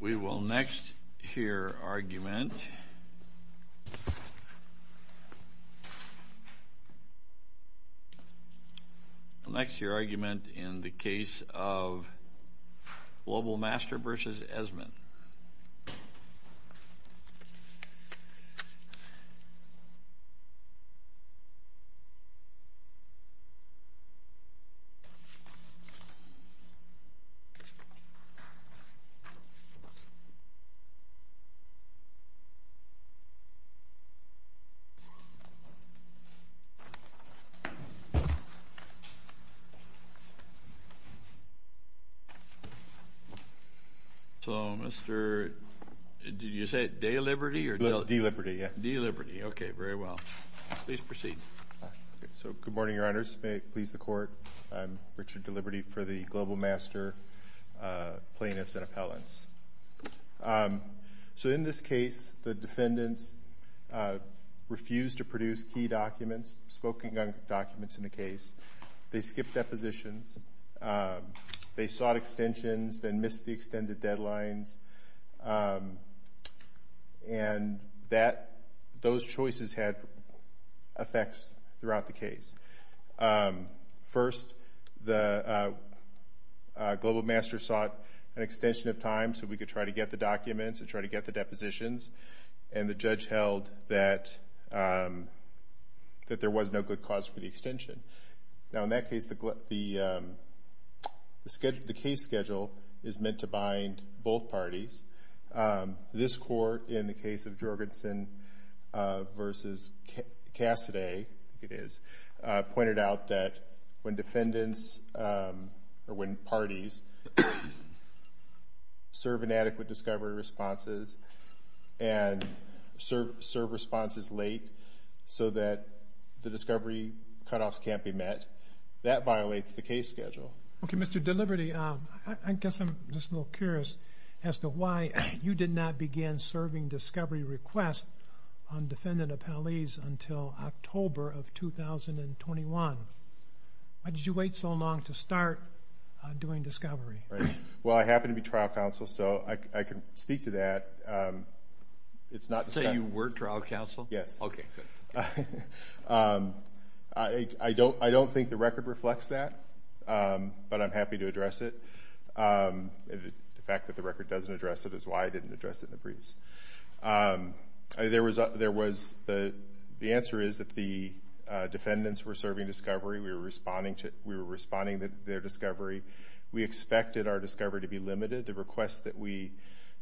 We will next hear argument in the case of Global Master v. Esmond. Mr. Deliberty, please proceed. I am Richard Deliberty for the Global Master plaintiffs and appellants. In this case, the defendants refused to produce key documents, spoken-gun documents, in the case. They skipped depositions. They sought extensions, then missed the extended deadlines. Those choices had effects throughout the case. First, Global Master sought an extension of time so we could try to get the documents and try to get the depositions. The judge held that there was no good cause for the extension. Now, in that case, the case schedule is meant to bind both parties. This court, in the case of Jorgensen v. Cassidy, pointed out that when parties serve inadequate discovery responses and serve responses late so that the discovery cutoffs can't be met, that violates the case schedule. Okay, Mr. Deliberty, I guess I'm just a little curious as to why you did not begin serving discovery requests on defendant appellees until October of 2021. Why did you wait so long to start doing discovery? Well, I happen to be trial counsel, so I can speak to that. So you were trial counsel? Yes. I don't think the record reflects that, but I'm happy to address it. The fact that the record doesn't address it is why I didn't address it in the briefs. The answer is that the defendants were serving discovery. We were responding to their discovery. We expected our discovery to be limited. The requests that we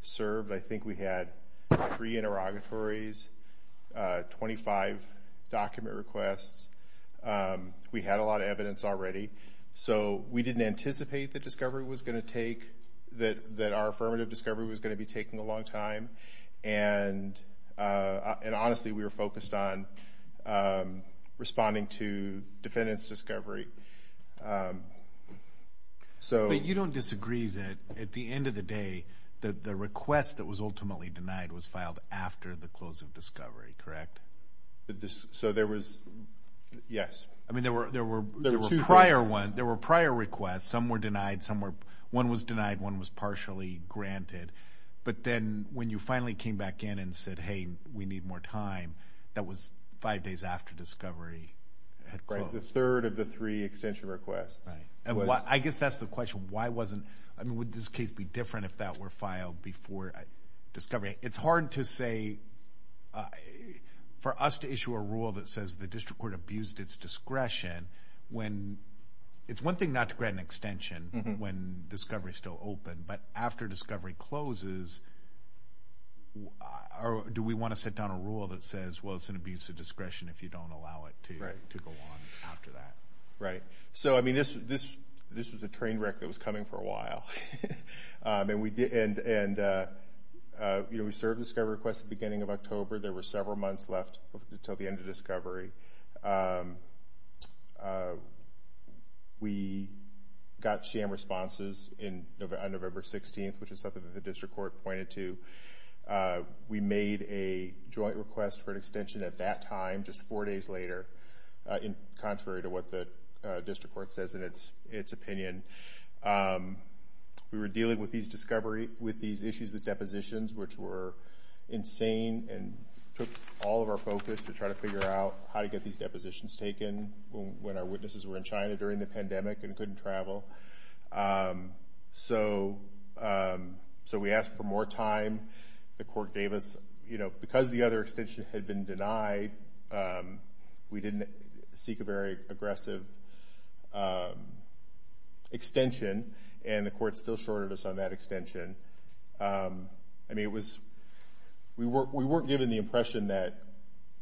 served, I think we had three interrogatories, 25 document requests. We had a lot of evidence already. So we didn't anticipate that our affirmative discovery was going to be taking a long time, and honestly, we were focused on responding to defendants' discovery. But you don't disagree that at the end of the day, the request that was ultimately denied was filed after the close of discovery, correct? So there was, yes. I mean, there were prior requests. Some were denied. One was denied. One was partially granted. But then when you finally came back in and said, hey, we need more time, that was five days after discovery had closed. Right, the third of the three extension requests. Right. I guess that's the question. I mean, would this case be different if that were filed before discovery? It's hard to say. For us to issue a rule that says the district court abused its discretion, it's one thing not to grant an extension when discovery is still open, but after discovery closes, do we want to set down a rule that says, well, it's an abuse of discretion if you don't allow it to go on after that? Right. So, I mean, this was a train wreck that was coming for a while. And we served discovery requests at the beginning of October. There were several months left until the end of discovery. We got sham responses on November 16th, which is something that the district court pointed to. We made a joint request for an extension at that time, just four days later, contrary to what the district court says in its opinion. We were dealing with these issues with depositions, which were insane and took all of our focus to try to figure out how to get these depositions taken when our witnesses were in China during the pandemic and couldn't travel. So we asked for more time. The court gave us, you know, because the other extension had been denied, we didn't seek a very aggressive extension, and the court still shorted us on that extension. I mean, we weren't given the impression that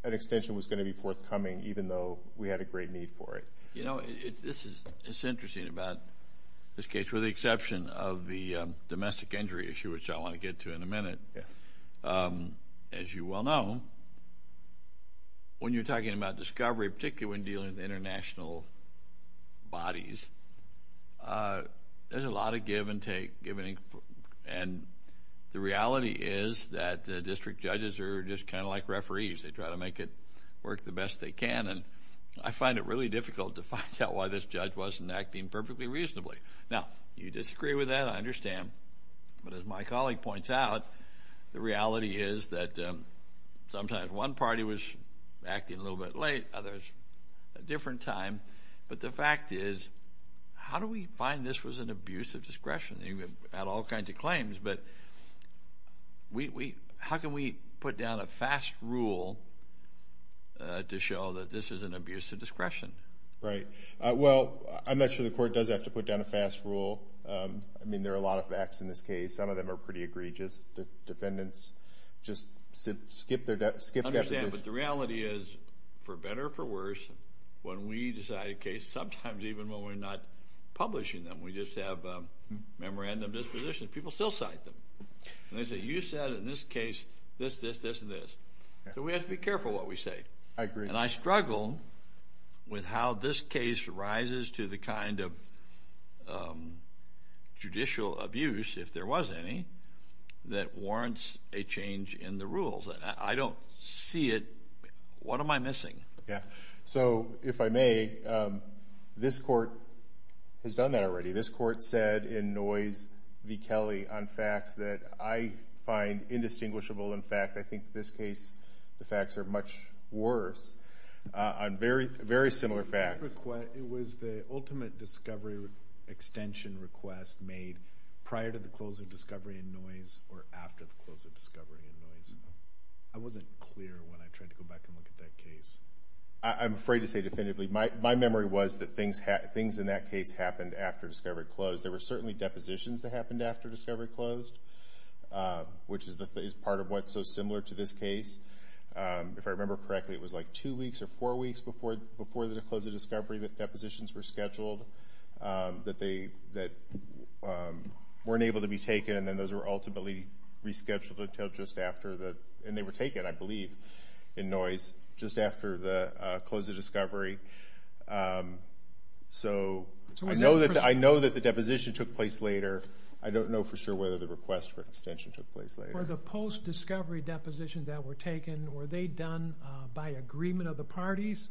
an extension was going to be forthcoming, even though we had a great need for it. You know, it's interesting about this case, with the exception of the domestic injury issue, which I want to get to in a minute. As you well know, when you're talking about discovery, particularly when dealing with international bodies, there's a lot of give and take. And the reality is that district judges are just kind of like referees. They try to make it work the best they can, and I find it really difficult to find out why this judge wasn't acting perfectly reasonably. Now, you disagree with that, I understand, but as my colleague points out, the reality is that sometimes one party was acting a little bit late, others a different time. But the fact is, how do we find this was an abuse of discretion? I mean, we've had all kinds of claims, but how can we put down a fast rule to show that this is an abuse of discretion? Right. Well, I'm not sure the court does have to put down a fast rule. I mean, there are a lot of facts in this case. Some of them are pretty egregious. The defendants just skip that decision. But the reality is, for better or for worse, when we decide a case, sometimes even when we're not publishing them, we just have memorandum dispositions, people still cite them. And they say, you said in this case this, this, this, and this. So we have to be careful what we say. I agree. And I struggle with how this case rises to the kind of judicial abuse, if there was any, that warrants a change in the rules. I don't see it. What am I missing? Yeah. So if I may, this court has done that already. This court said in Noyes v. Kelly on facts that I find indistinguishable. In fact, I think this case the facts are much worse on very similar facts. I wasn't clear when I tried to go back and look at that case. I'm afraid to say definitively. My memory was that things in that case happened after discovery closed. There were certainly depositions that happened after discovery closed, which is part of what's so similar to this case. If I remember correctly, it was like two weeks or four weeks before the close of discovery that depositions were scheduled that weren't able to be taken and then those were ultimately rescheduled until just after the and they were taken, I believe, in Noyes, just after the close of discovery. So I know that the deposition took place later. I don't know for sure whether the request for extension took place later. For the post-discovery depositions that were taken, were they done by agreement of the parties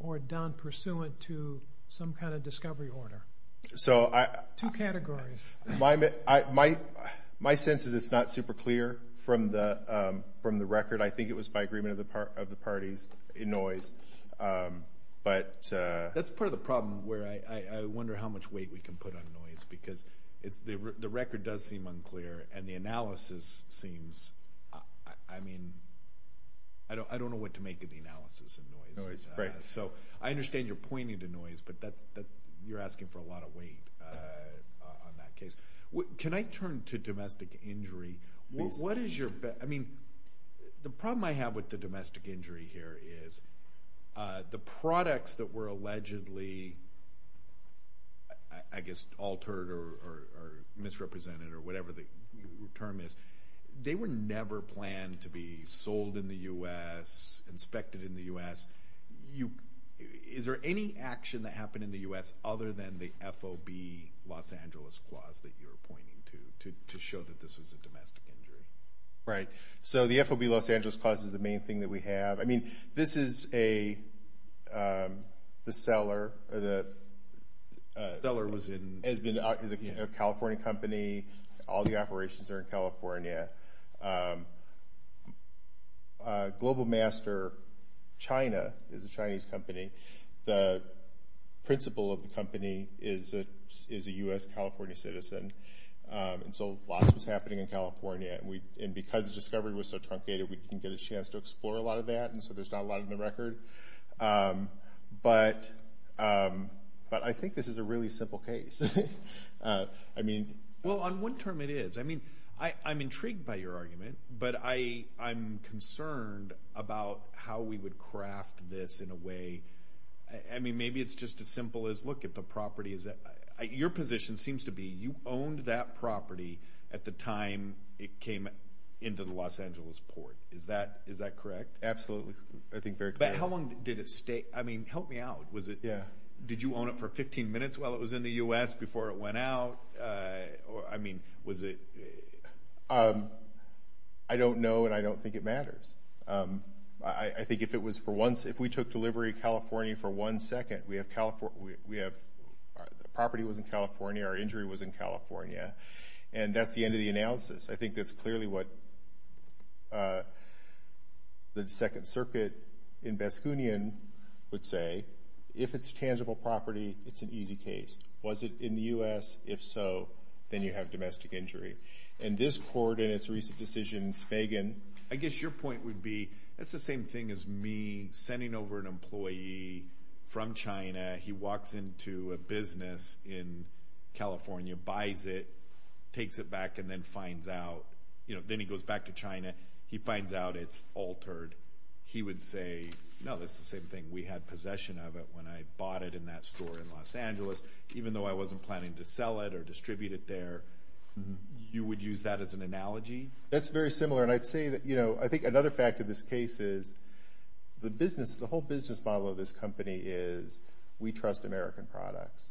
or done pursuant to some kind of discovery order? Two categories. My sense is it's not super clear from the record. I think it was by agreement of the parties in Noyes. That's part of the problem where I wonder how much weight we can put on Noyes because the record does seem unclear and the analysis seems, I mean, I don't know what to make of the analysis in Noyes. So I understand you're pointing to Noyes, but you're asking for a lot of weight on that case. Can I turn to domestic injury? I mean, the problem I have with the domestic injury here is the products that were allegedly, I guess, altered or misrepresented or whatever the term is, they were never planned to be sold in the U.S., inspected in the U.S. Is there any action that happened in the U.S. other than the FOB Los Angeles Clause that you're pointing to to show that this was a domestic injury? Right. So the FOB Los Angeles Clause is the main thing that we have. I mean, this is the seller. The seller was in? Is a California company. All the operations are in California. Global Master China is a Chinese company. The principal of the company is a U.S. California citizen. And so a lot was happening in California. And because the discovery was so truncated, we didn't get a chance to explore a lot of that, and so there's not a lot in the record. But I think this is a really simple case. Well, on one term it is. I mean, I'm intrigued by your argument, but I'm concerned about how we would craft this in a way. I mean, maybe it's just as simple as look at the property. Your position seems to be you owned that property at the time it came into the Los Angeles port. Is that correct? Absolutely. I think very clearly. But how long did it stay? I mean, help me out. Did you own it for 15 minutes while it was in the U.S., before it went out? I mean, was it? I don't know, and I don't think it matters. I think if we took delivery of California for one second, we have property that was in California, our injury was in California, and that's the end of the analysis. I think that's clearly what the Second Circuit in Baskinian would say. If it's tangible property, it's an easy case. Was it in the U.S.? If so, then you have domestic injury. And this court in its recent decision, Spagan, I guess your point would be that's the same thing as me sending over an employee from China. He walks into a business in California, buys it, takes it back, and then finds out. Then he goes back to China. He finds out it's altered. He would say, no, that's the same thing. We had possession of it when I bought it in that store in Los Angeles. Even though I wasn't planning to sell it or distribute it there, you would use that as an analogy? That's very similar. I think another fact of this case is the whole business model of this company is we trust American products.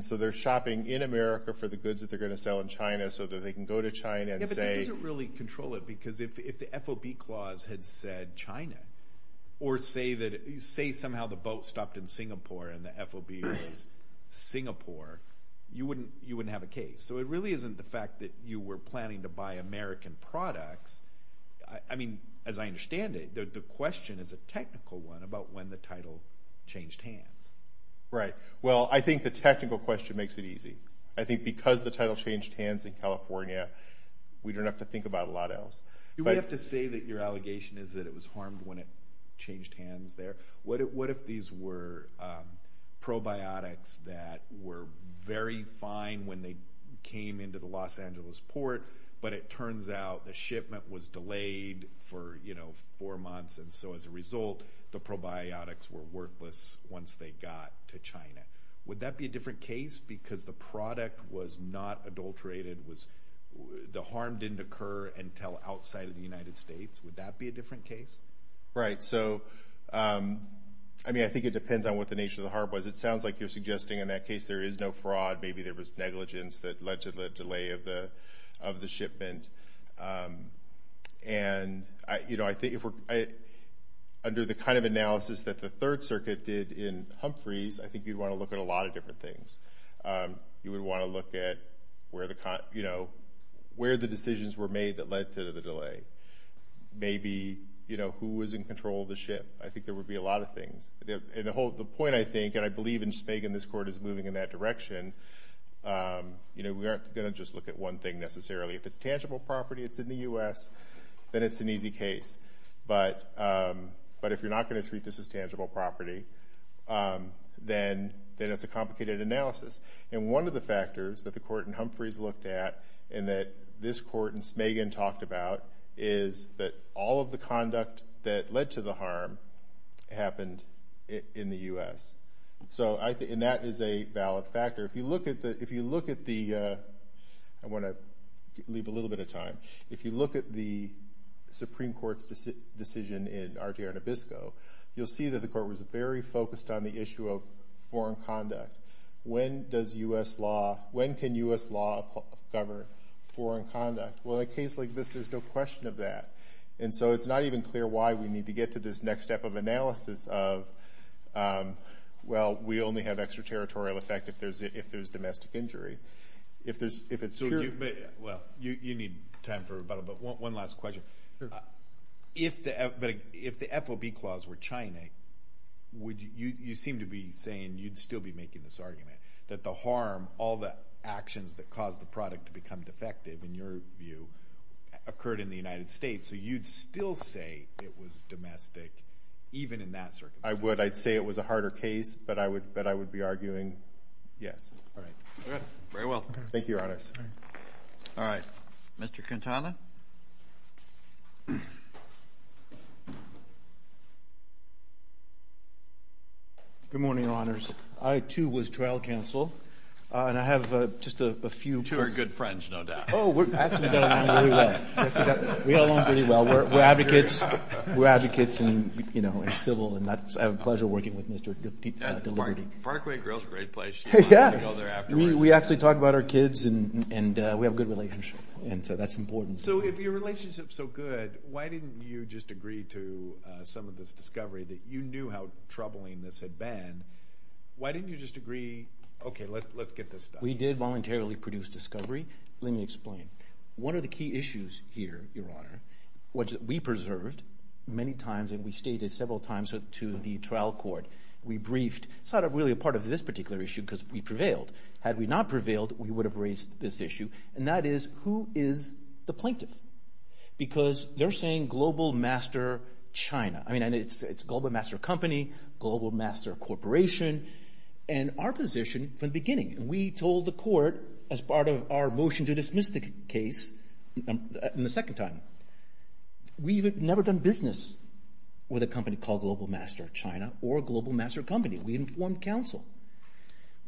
So they're shopping in America for the goods that they're going to sell in China so that they can go to China and say— Yeah, but that doesn't really control it because if the FOB clause had said China or say somehow the boat stopped in Singapore and the FOB says Singapore, you wouldn't have a case. So it really isn't the fact that you were planning to buy American products. I mean, as I understand it, the question is a technical one about when the title changed hands. Right. Well, I think the technical question makes it easy. I think because the title changed hands in California, we don't have to think about a lot else. You would have to say that your allegation is that it was harmed when it changed hands there. What if these were probiotics that were very fine when they came into the Los Angeles port, but it turns out the shipment was delayed for four months, and so as a result the probiotics were worthless once they got to China? Would that be a different case because the product was not adulterated? The harm didn't occur until outside of the United States. Would that be a different case? Right. I mean, I think it depends on what the nature of the harm was. It sounds like you're suggesting in that case there is no fraud. Maybe there was negligence that led to the delay of the shipment. And under the kind of analysis that the Third Circuit did in Humphreys, I think you'd want to look at a lot of different things. You would want to look at where the decisions were made that led to the delay. Maybe who was in control of the ship. I think there would be a lot of things. The point, I think, and I believe in Spagan this Court is moving in that direction, we aren't going to just look at one thing necessarily. If it's tangible property, it's in the U.S., then it's an easy case. But if you're not going to treat this as tangible property, then it's a complicated analysis. And one of the factors that the Court in Humphreys looked at and that this Court in Spagan talked about is that all of the conduct that led to the harm happened in the U.S. And that is a valid factor. If you look at the – I want to leave a little bit of time. If you look at the Supreme Court's decision in Arturo Nabisco, you'll see that the Court was very focused on the issue of foreign conduct. When does U.S. law – when can U.S. law govern foreign conduct? Well, in a case like this, there's no question of that. And so it's not even clear why we need to get to this next step of analysis of, well, we only have extraterritorial effect if there's domestic injury. So you – well, you need time for rebuttal. But one last question. If the FOB clause were China, you seem to be saying you'd still be making this argument, that the harm, all the actions that caused the product to become defective, in your view, occurred in the United States. So you'd still say it was domestic, even in that circumstance? I would. I'd say it was a harder case, but I would be arguing yes. All right. Very well. Thank you, Your Honors. All right. Mr. Quintana. Good morning, Your Honors. I, too, was trial counsel, and I have just a few questions. You two are good friends, no doubt. Oh, we're – actually, we get along really well. We all get along pretty well. We're advocates. We're advocates and civil, and that's – I have a pleasure working with Mr. Deliberty. Parkway Grill's a great place. We actually talk about our kids, and we have a good relationship, and so that's important. So if your relationship's so good, why didn't you just agree to some of this discovery that you knew how troubling this had been? Why didn't you just agree, okay, let's get this done? We did voluntarily produce discovery. Let me explain. One of the key issues here, Your Honor, which we preserved many times, and we stated several times to the trial court. We briefed. It's not really a part of this particular issue because we prevailed. Had we not prevailed, we would have raised this issue, and that is who is the plaintiff? Because they're saying Global Master China. I mean, it's Global Master Company, Global Master Corporation, and our position from the beginning. We told the court as part of our motion to dismiss the case in the second time, we would have never done business with a company called Global Master China or Global Master Company. We informed counsel.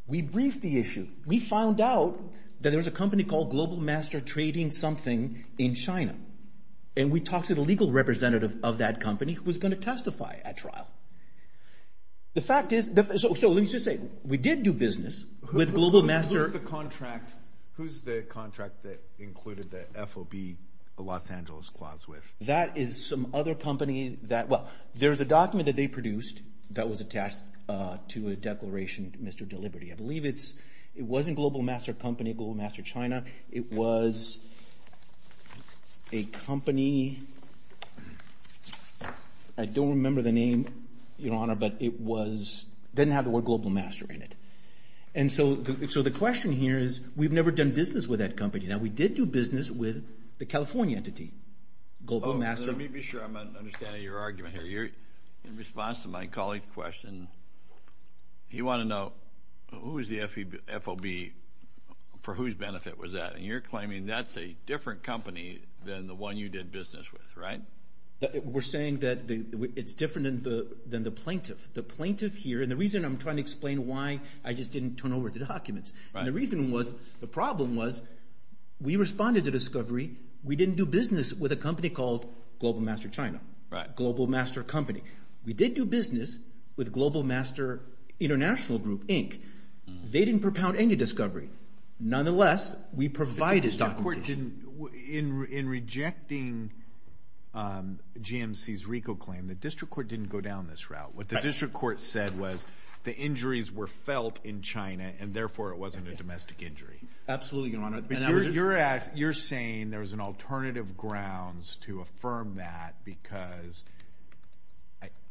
We briefed the issue. We found out that there was a company called Global Master trading something in China, and we talked to the legal representative of that company who was going to testify at trial. The fact is, so let me just say, we did do business with Global Master. Who's the contract that included the FOB Los Angeles clause with? That is some other company that, well, there's a document that they produced that was attached to a declaration, Mr. Deliberty. I believe it wasn't Global Master Company, Global Master China. It was a company. I don't remember the name, Your Honor, but it didn't have the word Global Master in it. And so the question here is we've never done business with that company. Now, we did do business with the California entity, Global Master. Let me be sure I'm understanding your argument here. In response to my colleague's question, he wanted to know who was the FOB, for whose benefit was that, and you're claiming that's a different company than the one you did business with, right? We're saying that it's different than the plaintiff. The plaintiff here, and the reason I'm trying to explain why I just didn't turn over the documents, and the reason was the problem was we responded to discovery. We didn't do business with a company called Global Master China, Global Master Company. We did do business with Global Master International Group, Inc. They didn't propound any discovery. Nonetheless, we provided documentation. In rejecting GMC's RICO claim, the district court didn't go down this route. What the district court said was the injuries were felt in China, and therefore it wasn't a domestic injury. Absolutely, Your Honor. You're saying there's an alternative grounds to affirm that because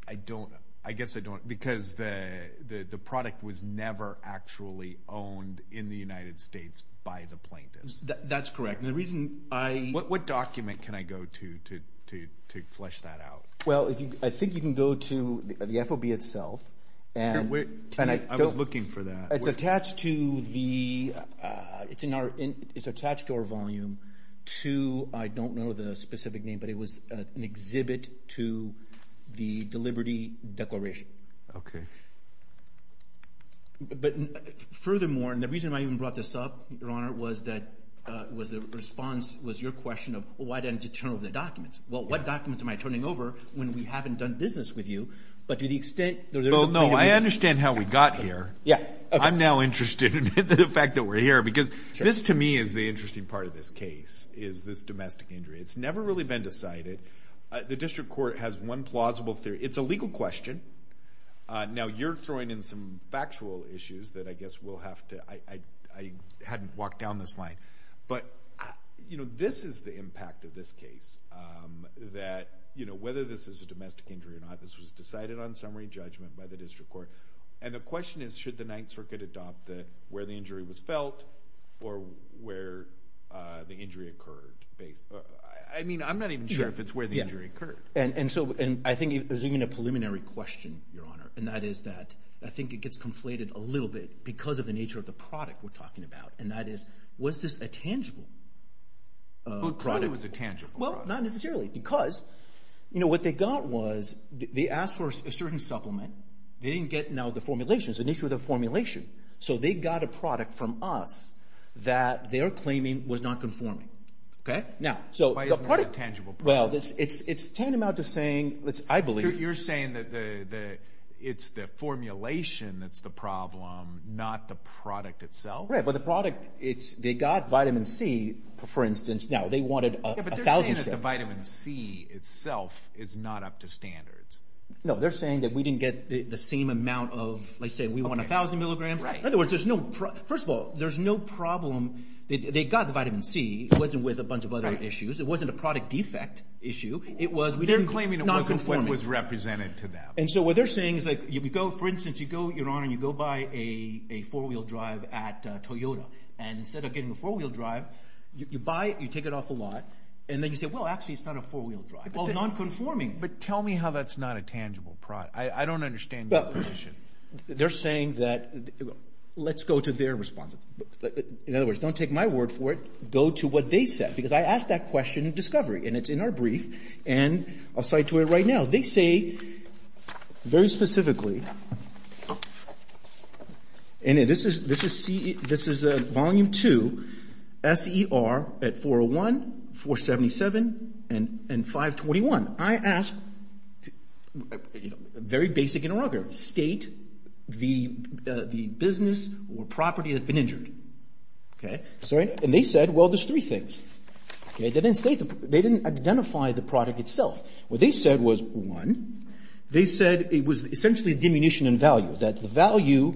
I don't, I guess I don't, because the product was never actually owned in the United States by the plaintiffs. That's correct. And the reason I— What document can I go to to flesh that out? Well, I think you can go to the FOB itself. I was looking for that. It's attached to our volume to, I don't know the specific name, but it was an exhibit to the Deliberty Declaration. Okay. But furthermore, and the reason I even brought this up, Your Honor, was that the response was your question of why didn't you turn over the documents. Well, what documents am I turning over when we haven't done business with you? But to the extent— Well, no, I understand how we got here. I'm now interested in the fact that we're here because this to me is the interesting part of this case, is this domestic injury. It's never really been decided. The district court has one plausible theory. It's a legal question. Now, you're throwing in some factual issues that I guess we'll have to— I hadn't walked down this line. But this is the impact of this case, that whether this is a domestic injury or not, this was decided on summary judgment by the district court, and the question is should the Ninth Circuit adopt where the injury was felt or where the injury occurred. I mean, I'm not even sure if it's where the injury occurred. And so I think there's even a preliminary question, Your Honor, and that is that I think it gets conflated a little bit because of the nature of the product we're talking about, and that is was this a tangible product? Who claimed it was a tangible product? Well, not necessarily because what they got was they asked for a certain supplement. They didn't get, now, the formulations, an issue with the formulation. So they got a product from us that they're claiming was not conforming. Why isn't that a tangible product? Well, it's tantamount to saying, I believe— You're saying that it's the formulation that's the problem, not the product itself? Right, but the product, they got vitamin C, for instance. Now, they wanted 1,000 milligrams. But they're saying that the vitamin C itself is not up to standards. No, they're saying that we didn't get the same amount of, let's say we want 1,000 milligrams. In other words, first of all, there's no problem. They got the vitamin C. It wasn't with a bunch of other issues. It wasn't a product defect issue. They're claiming it wasn't what was represented to them. And so what they're saying is, for instance, you go, Your Honor, you go buy a four-wheel drive at Toyota. And instead of getting a four-wheel drive, you buy it, you take it off a lot. And then you say, well, actually, it's not a four-wheel drive. Well, nonconforming. But tell me how that's not a tangible product. I don't understand that question. They're saying that—let's go to their response. In other words, don't take my word for it. Go to what they said, because I asked that question in discovery, and it's in our brief. And I'll cite to it right now. What they say very specifically, and this is Volume 2, S.E.R. at 401, 477, and 521. I asked a very basic interrogation. State the business or property that had been injured. And they said, well, there's three things. They didn't identify the product itself. What they said was, one, they said it was essentially a diminution in value, that the value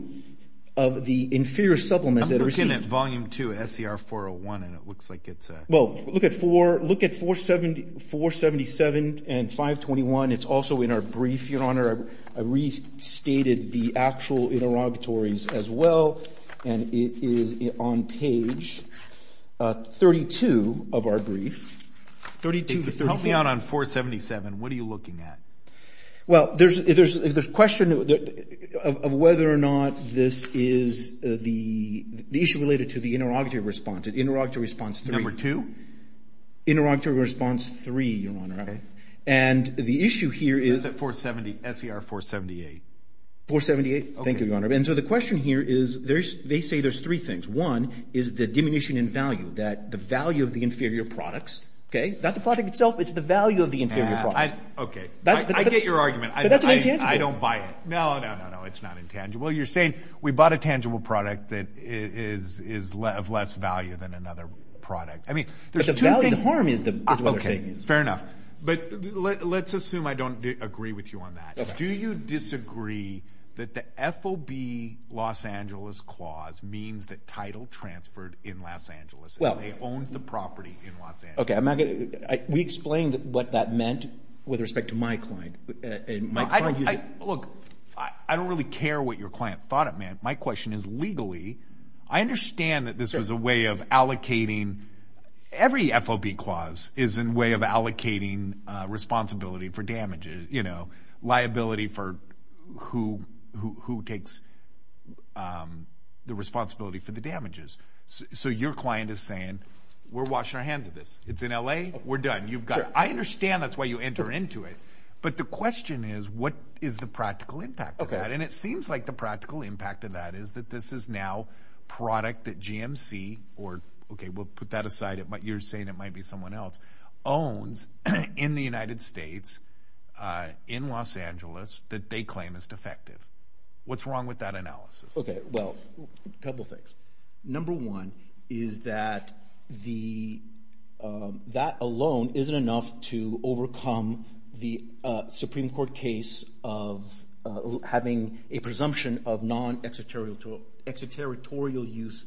of the inferior supplements that are received— I'm looking at Volume 2, S.E.R. 401, and it looks like it's— Well, look at 477 and 521. It's also in our brief, Your Honor. I restated the actual interrogatories as well. And it is on page 32 of our brief. Help me out on 477. What are you looking at? Well, there's a question of whether or not this is the issue related to the interrogatory response. Interrogatory response 3. Number 2? Interrogatory response 3, Your Honor. Okay. And the issue here is— Where's that 470? S.E.R. 478. 478? Okay. Thank you, Your Honor. And so the question here is, they say there's three things. One is the diminution in value, that the value of the inferior products, okay? Not the product itself. It's the value of the inferior product. Okay. I get your argument. But that's an intangible. I don't buy it. No, no, no, no. It's not intangible. You're saying we bought a tangible product that is of less value than another product. I mean, there's two things— But the value, the harm is what they're saying. Okay. Fair enough. But let's assume I don't agree with you on that. Okay. Do you disagree that the FOB Los Angeles clause means that title transferred in Los Angeles, that they owned the property in Los Angeles? Okay. I'm not going to— We explained what that meant with respect to my client. Look, I don't really care what your client thought it meant. My question is, legally, I understand that this was a way of allocating— who takes the responsibility for the damages. So your client is saying, we're washing our hands of this. It's in LA. We're done. You've got—I understand that's why you enter into it. But the question is, what is the practical impact of that? Okay. And it seems like the practical impact of that is that this is now product that GMC— or, okay, we'll put that aside. You're saying it might be someone else—owns in the United States, in Los Angeles, that they claim is defective. What's wrong with that analysis? Okay. Well, a couple things. Number one is that that alone isn't enough to overcome the Supreme Court case of having a presumption of non-exterritorial use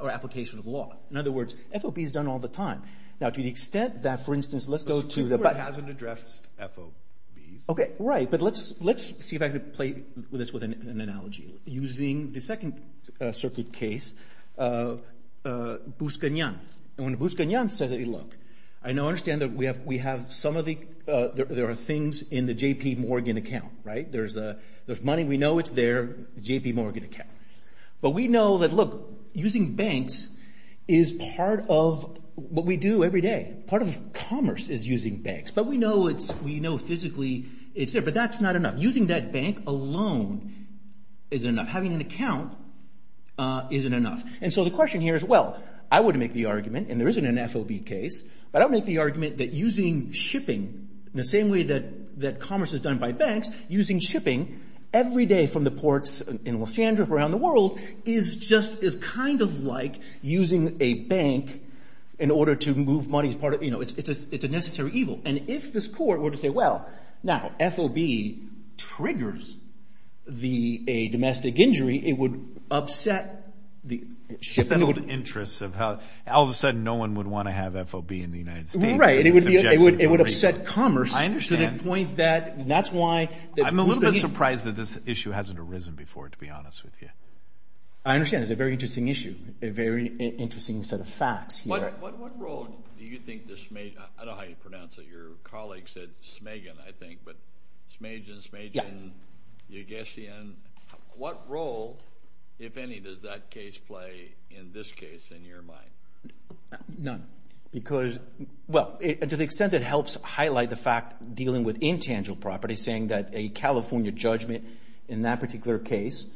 or application of law. In other words, FOB is done all the time. Now, to the extent that, for instance, let's go to the— The Supreme Court hasn't addressed FOBs. Okay. Right. But let's see if I can play this with an analogy. Using the second circuit case, Buscanyan. And when Buscanyan says that, look, I understand that we have some of the— there are things in the JP Morgan account, right? There's money. We know it's there. JP Morgan account. But we know that, look, using banks is part of what we do every day. Part of commerce is using banks. But we know it's—we know physically it's there. But that's not enough. Using that bank alone isn't enough. Having an account isn't enough. And so the question here is, well, I would make the argument, and there isn't an FOB case, but I would make the argument that using shipping, the same way that commerce is done by banks, using shipping every day from the ports in Los Angeles, around the world, is just—is kind of like using a bank in order to move money as part of— it's a necessary evil. And if this court were to say, well, now, FOB triggers a domestic injury, it would upset the shipping— It would upset the interests of how all of a sudden no one would want to have FOB in the United States. It would upset commerce to the point that— I understand. I'm a little bit surprised that this issue hasn't arisen before, to be honest with you. I understand. It's a very interesting issue, a very interesting set of facts. What role do you think the—I don't know how you pronounce it. Your colleague said Smagen, I think, but Smagen, Smagen, Ygesian. What role, if any, does that case play in this case in your mind? None. Because—well, to the extent it helps highlight the fact dealing with intangible property, saying that a California judgment in that particular case,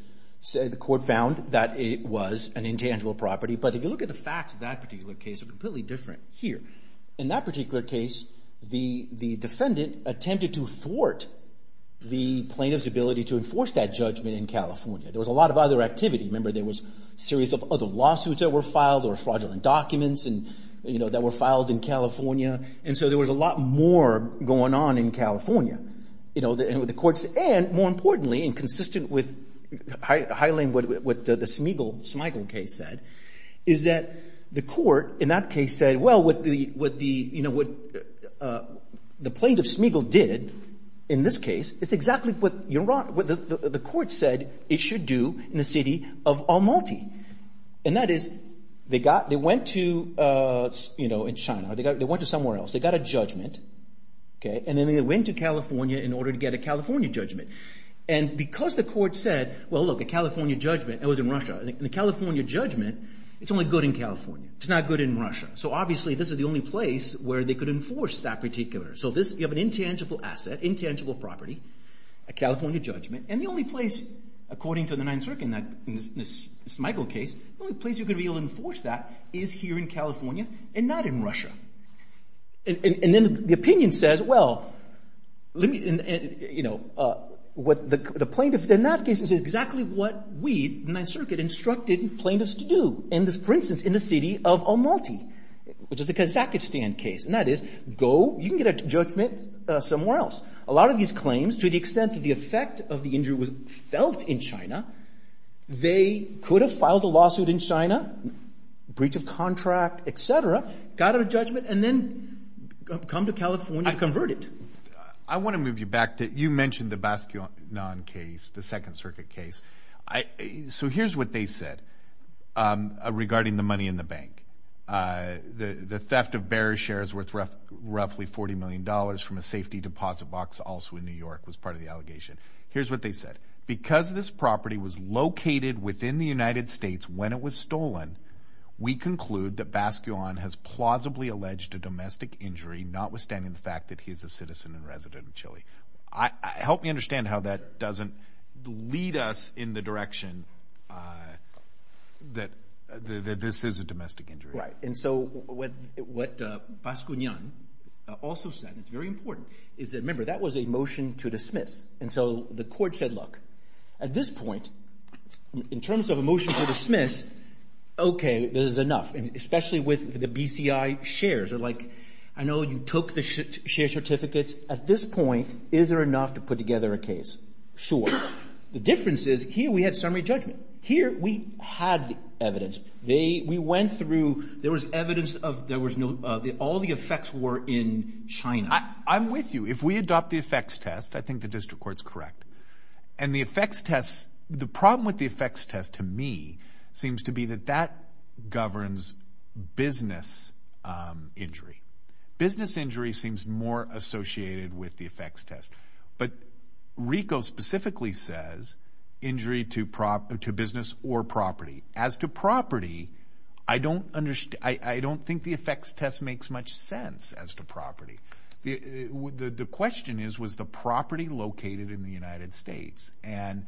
the court found that it was an intangible property. But if you look at the facts of that particular case, they're completely different here. In that particular case, the defendant attempted to thwart the plaintiff's ability to enforce that judgment in California. There was a lot of other activity. Remember, there was a series of other lawsuits that were filed or fraudulent documents that were filed in California. And so there was a lot more going on in California. And the courts—and, more importantly, and consistent with highlighting what the Smigel case said, is that the court in that case said, well, what the plaintiff, Smigel, did in this case, it's exactly what the court said it should do in the city of Almaty. And that is they went to China or they went to somewhere else. They got a judgment, and then they went to California in order to get a California judgment. And because the court said, well, look, a California judgment, it was in Russia. And the California judgment, it's only good in California. It's not good in Russia. So obviously this is the only place where they could enforce that particular. So you have an intangible asset, intangible property, a California judgment, and the only place, according to the Ninth Circuit in the Smigel case, the only place you're going to be able to enforce that is here in California and not in Russia. And then the opinion says, well, let me—you know, what the plaintiff in that case is exactly what we, the Ninth Circuit, instructed plaintiffs to do. And this, for instance, in the city of Almaty, which is a Kazakhstan case. And that is, go—you can get a judgment somewhere else. A lot of these claims, to the extent that the effect of the injury was felt in China, they could have filed a lawsuit in China, breach of contract, et cetera, got a judgment, and then come to California to convert it. I want to move you back to—you mentioned the Baskinon case, the Second Circuit case. So here's what they said regarding the money in the bank. The theft of bearish shares worth roughly $40 million from a safety deposit box, also in New York, was part of the allegation. Here's what they said. Because this property was located within the United States when it was stolen, we conclude that Baskinon has plausibly alleged a domestic injury, notwithstanding the fact that he is a citizen and resident of Chile. Help me understand how that doesn't lead us in the direction that this is a domestic injury. Right. And so what Baskinon also said, and it's very important, is that, remember, that was a motion to dismiss. And so the court said, look, at this point, in terms of a motion to dismiss, okay, this is enough, especially with the BCI shares. They're like, I know you took the share certificates. At this point, is there enough to put together a case? Sure. The difference is, here we had summary judgment. Here we had the evidence. We went through—there was evidence of there was no—all the effects were in China. I'm with you. If we adopt the effects test, I think the district court's correct. And the effects test—the problem with the effects test, to me, seems to be that that governs business injury. Business injury seems more associated with the effects test. But RICO specifically says injury to business or property. As to property, I don't think the effects test makes much sense as to property. The question is, was the property located in the United States? And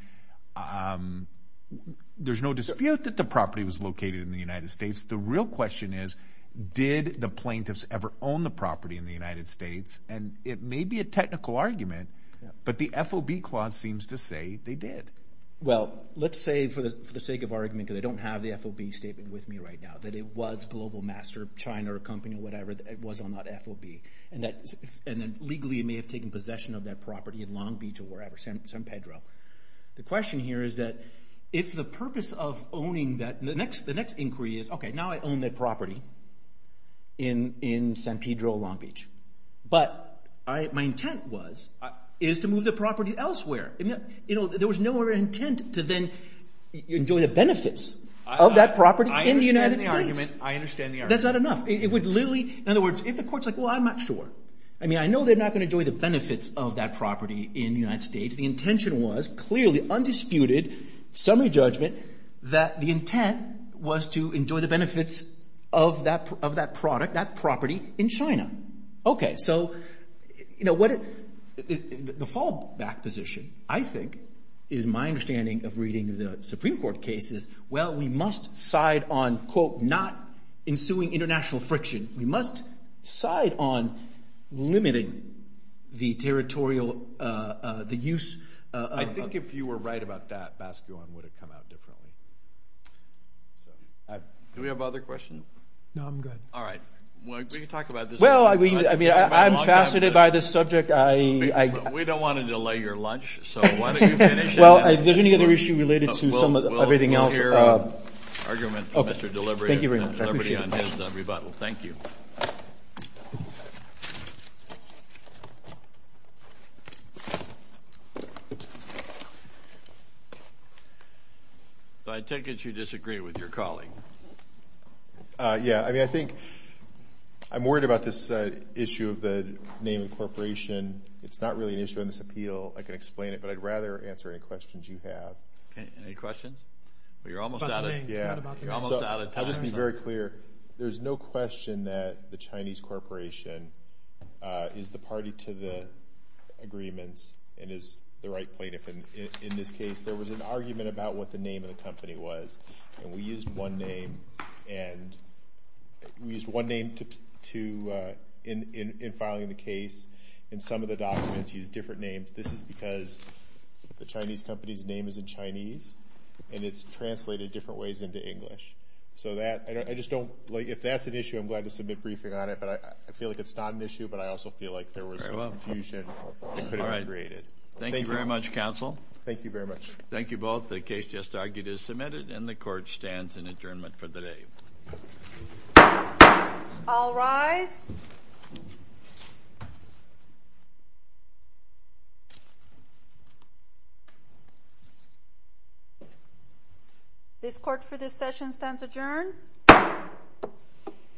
there's no dispute that the property was located in the United States. The real question is, did the plaintiffs ever own the property in the United States? And it may be a technical argument, but the FOB clause seems to say they did. Well, let's say, for the sake of argument, because I don't have the FOB statement with me right now, that it was Global Master, China or a company or whatever, it was on that FOB. And then legally it may have taken possession of that property in Long Beach or wherever, San Pedro. The question here is that if the purpose of owning that—the next inquiry is, okay, now I own that property in San Pedro, Long Beach, but my intent was to move the property elsewhere. There was no other intent to then enjoy the benefits of that property in the United States. I understand the argument. I understand the argument. That's not enough. It would literally—in other words, if the court's like, well, I'm not sure. I mean, I know they're not going to enjoy the benefits of that property in the United States. The intention was clearly, undisputed, summary judgment, that the intent was to enjoy the benefits of that product, that property in China. Okay, so the fallback position, I think, is my understanding of reading the Supreme Court cases. Well, we must side on, quote, not ensuing international friction. We must side on limiting the territorial—the use of— I think if you were right about that, Bascuon would have come out differently. Do we have other questions? No, I'm good. All right. Well, I mean, I'm faceted by this subject. We don't want to delay your lunch, so why don't you finish. Well, if there's any other issue related to everything else— Thank you. I take it you disagree with your colleague. Yeah. I mean, I think I'm worried about this issue of the name incorporation. It's not really an issue in this appeal. I can explain it, but I'd rather answer any questions you have. Any questions? Well, you're almost out of time. I'll just be very clear. There's no question that the Chinese corporation is the party to the agreements and is the right plaintiff in this case. There was an argument about what the name of the company was, and we used one name in filing the case, and some of the documents use different names. This is because the Chinese company's name is in Chinese, and it's translated different ways into English. So if that's an issue, I'm glad to submit a briefing on it. I feel like it's not an issue, but I also feel like there was confusion that could have been created. Thank you very much, counsel. Thank you very much. Thank you both. The case just argued is submitted, and the court stands in adjournment for the day. All rise. This court for this session stands adjourned.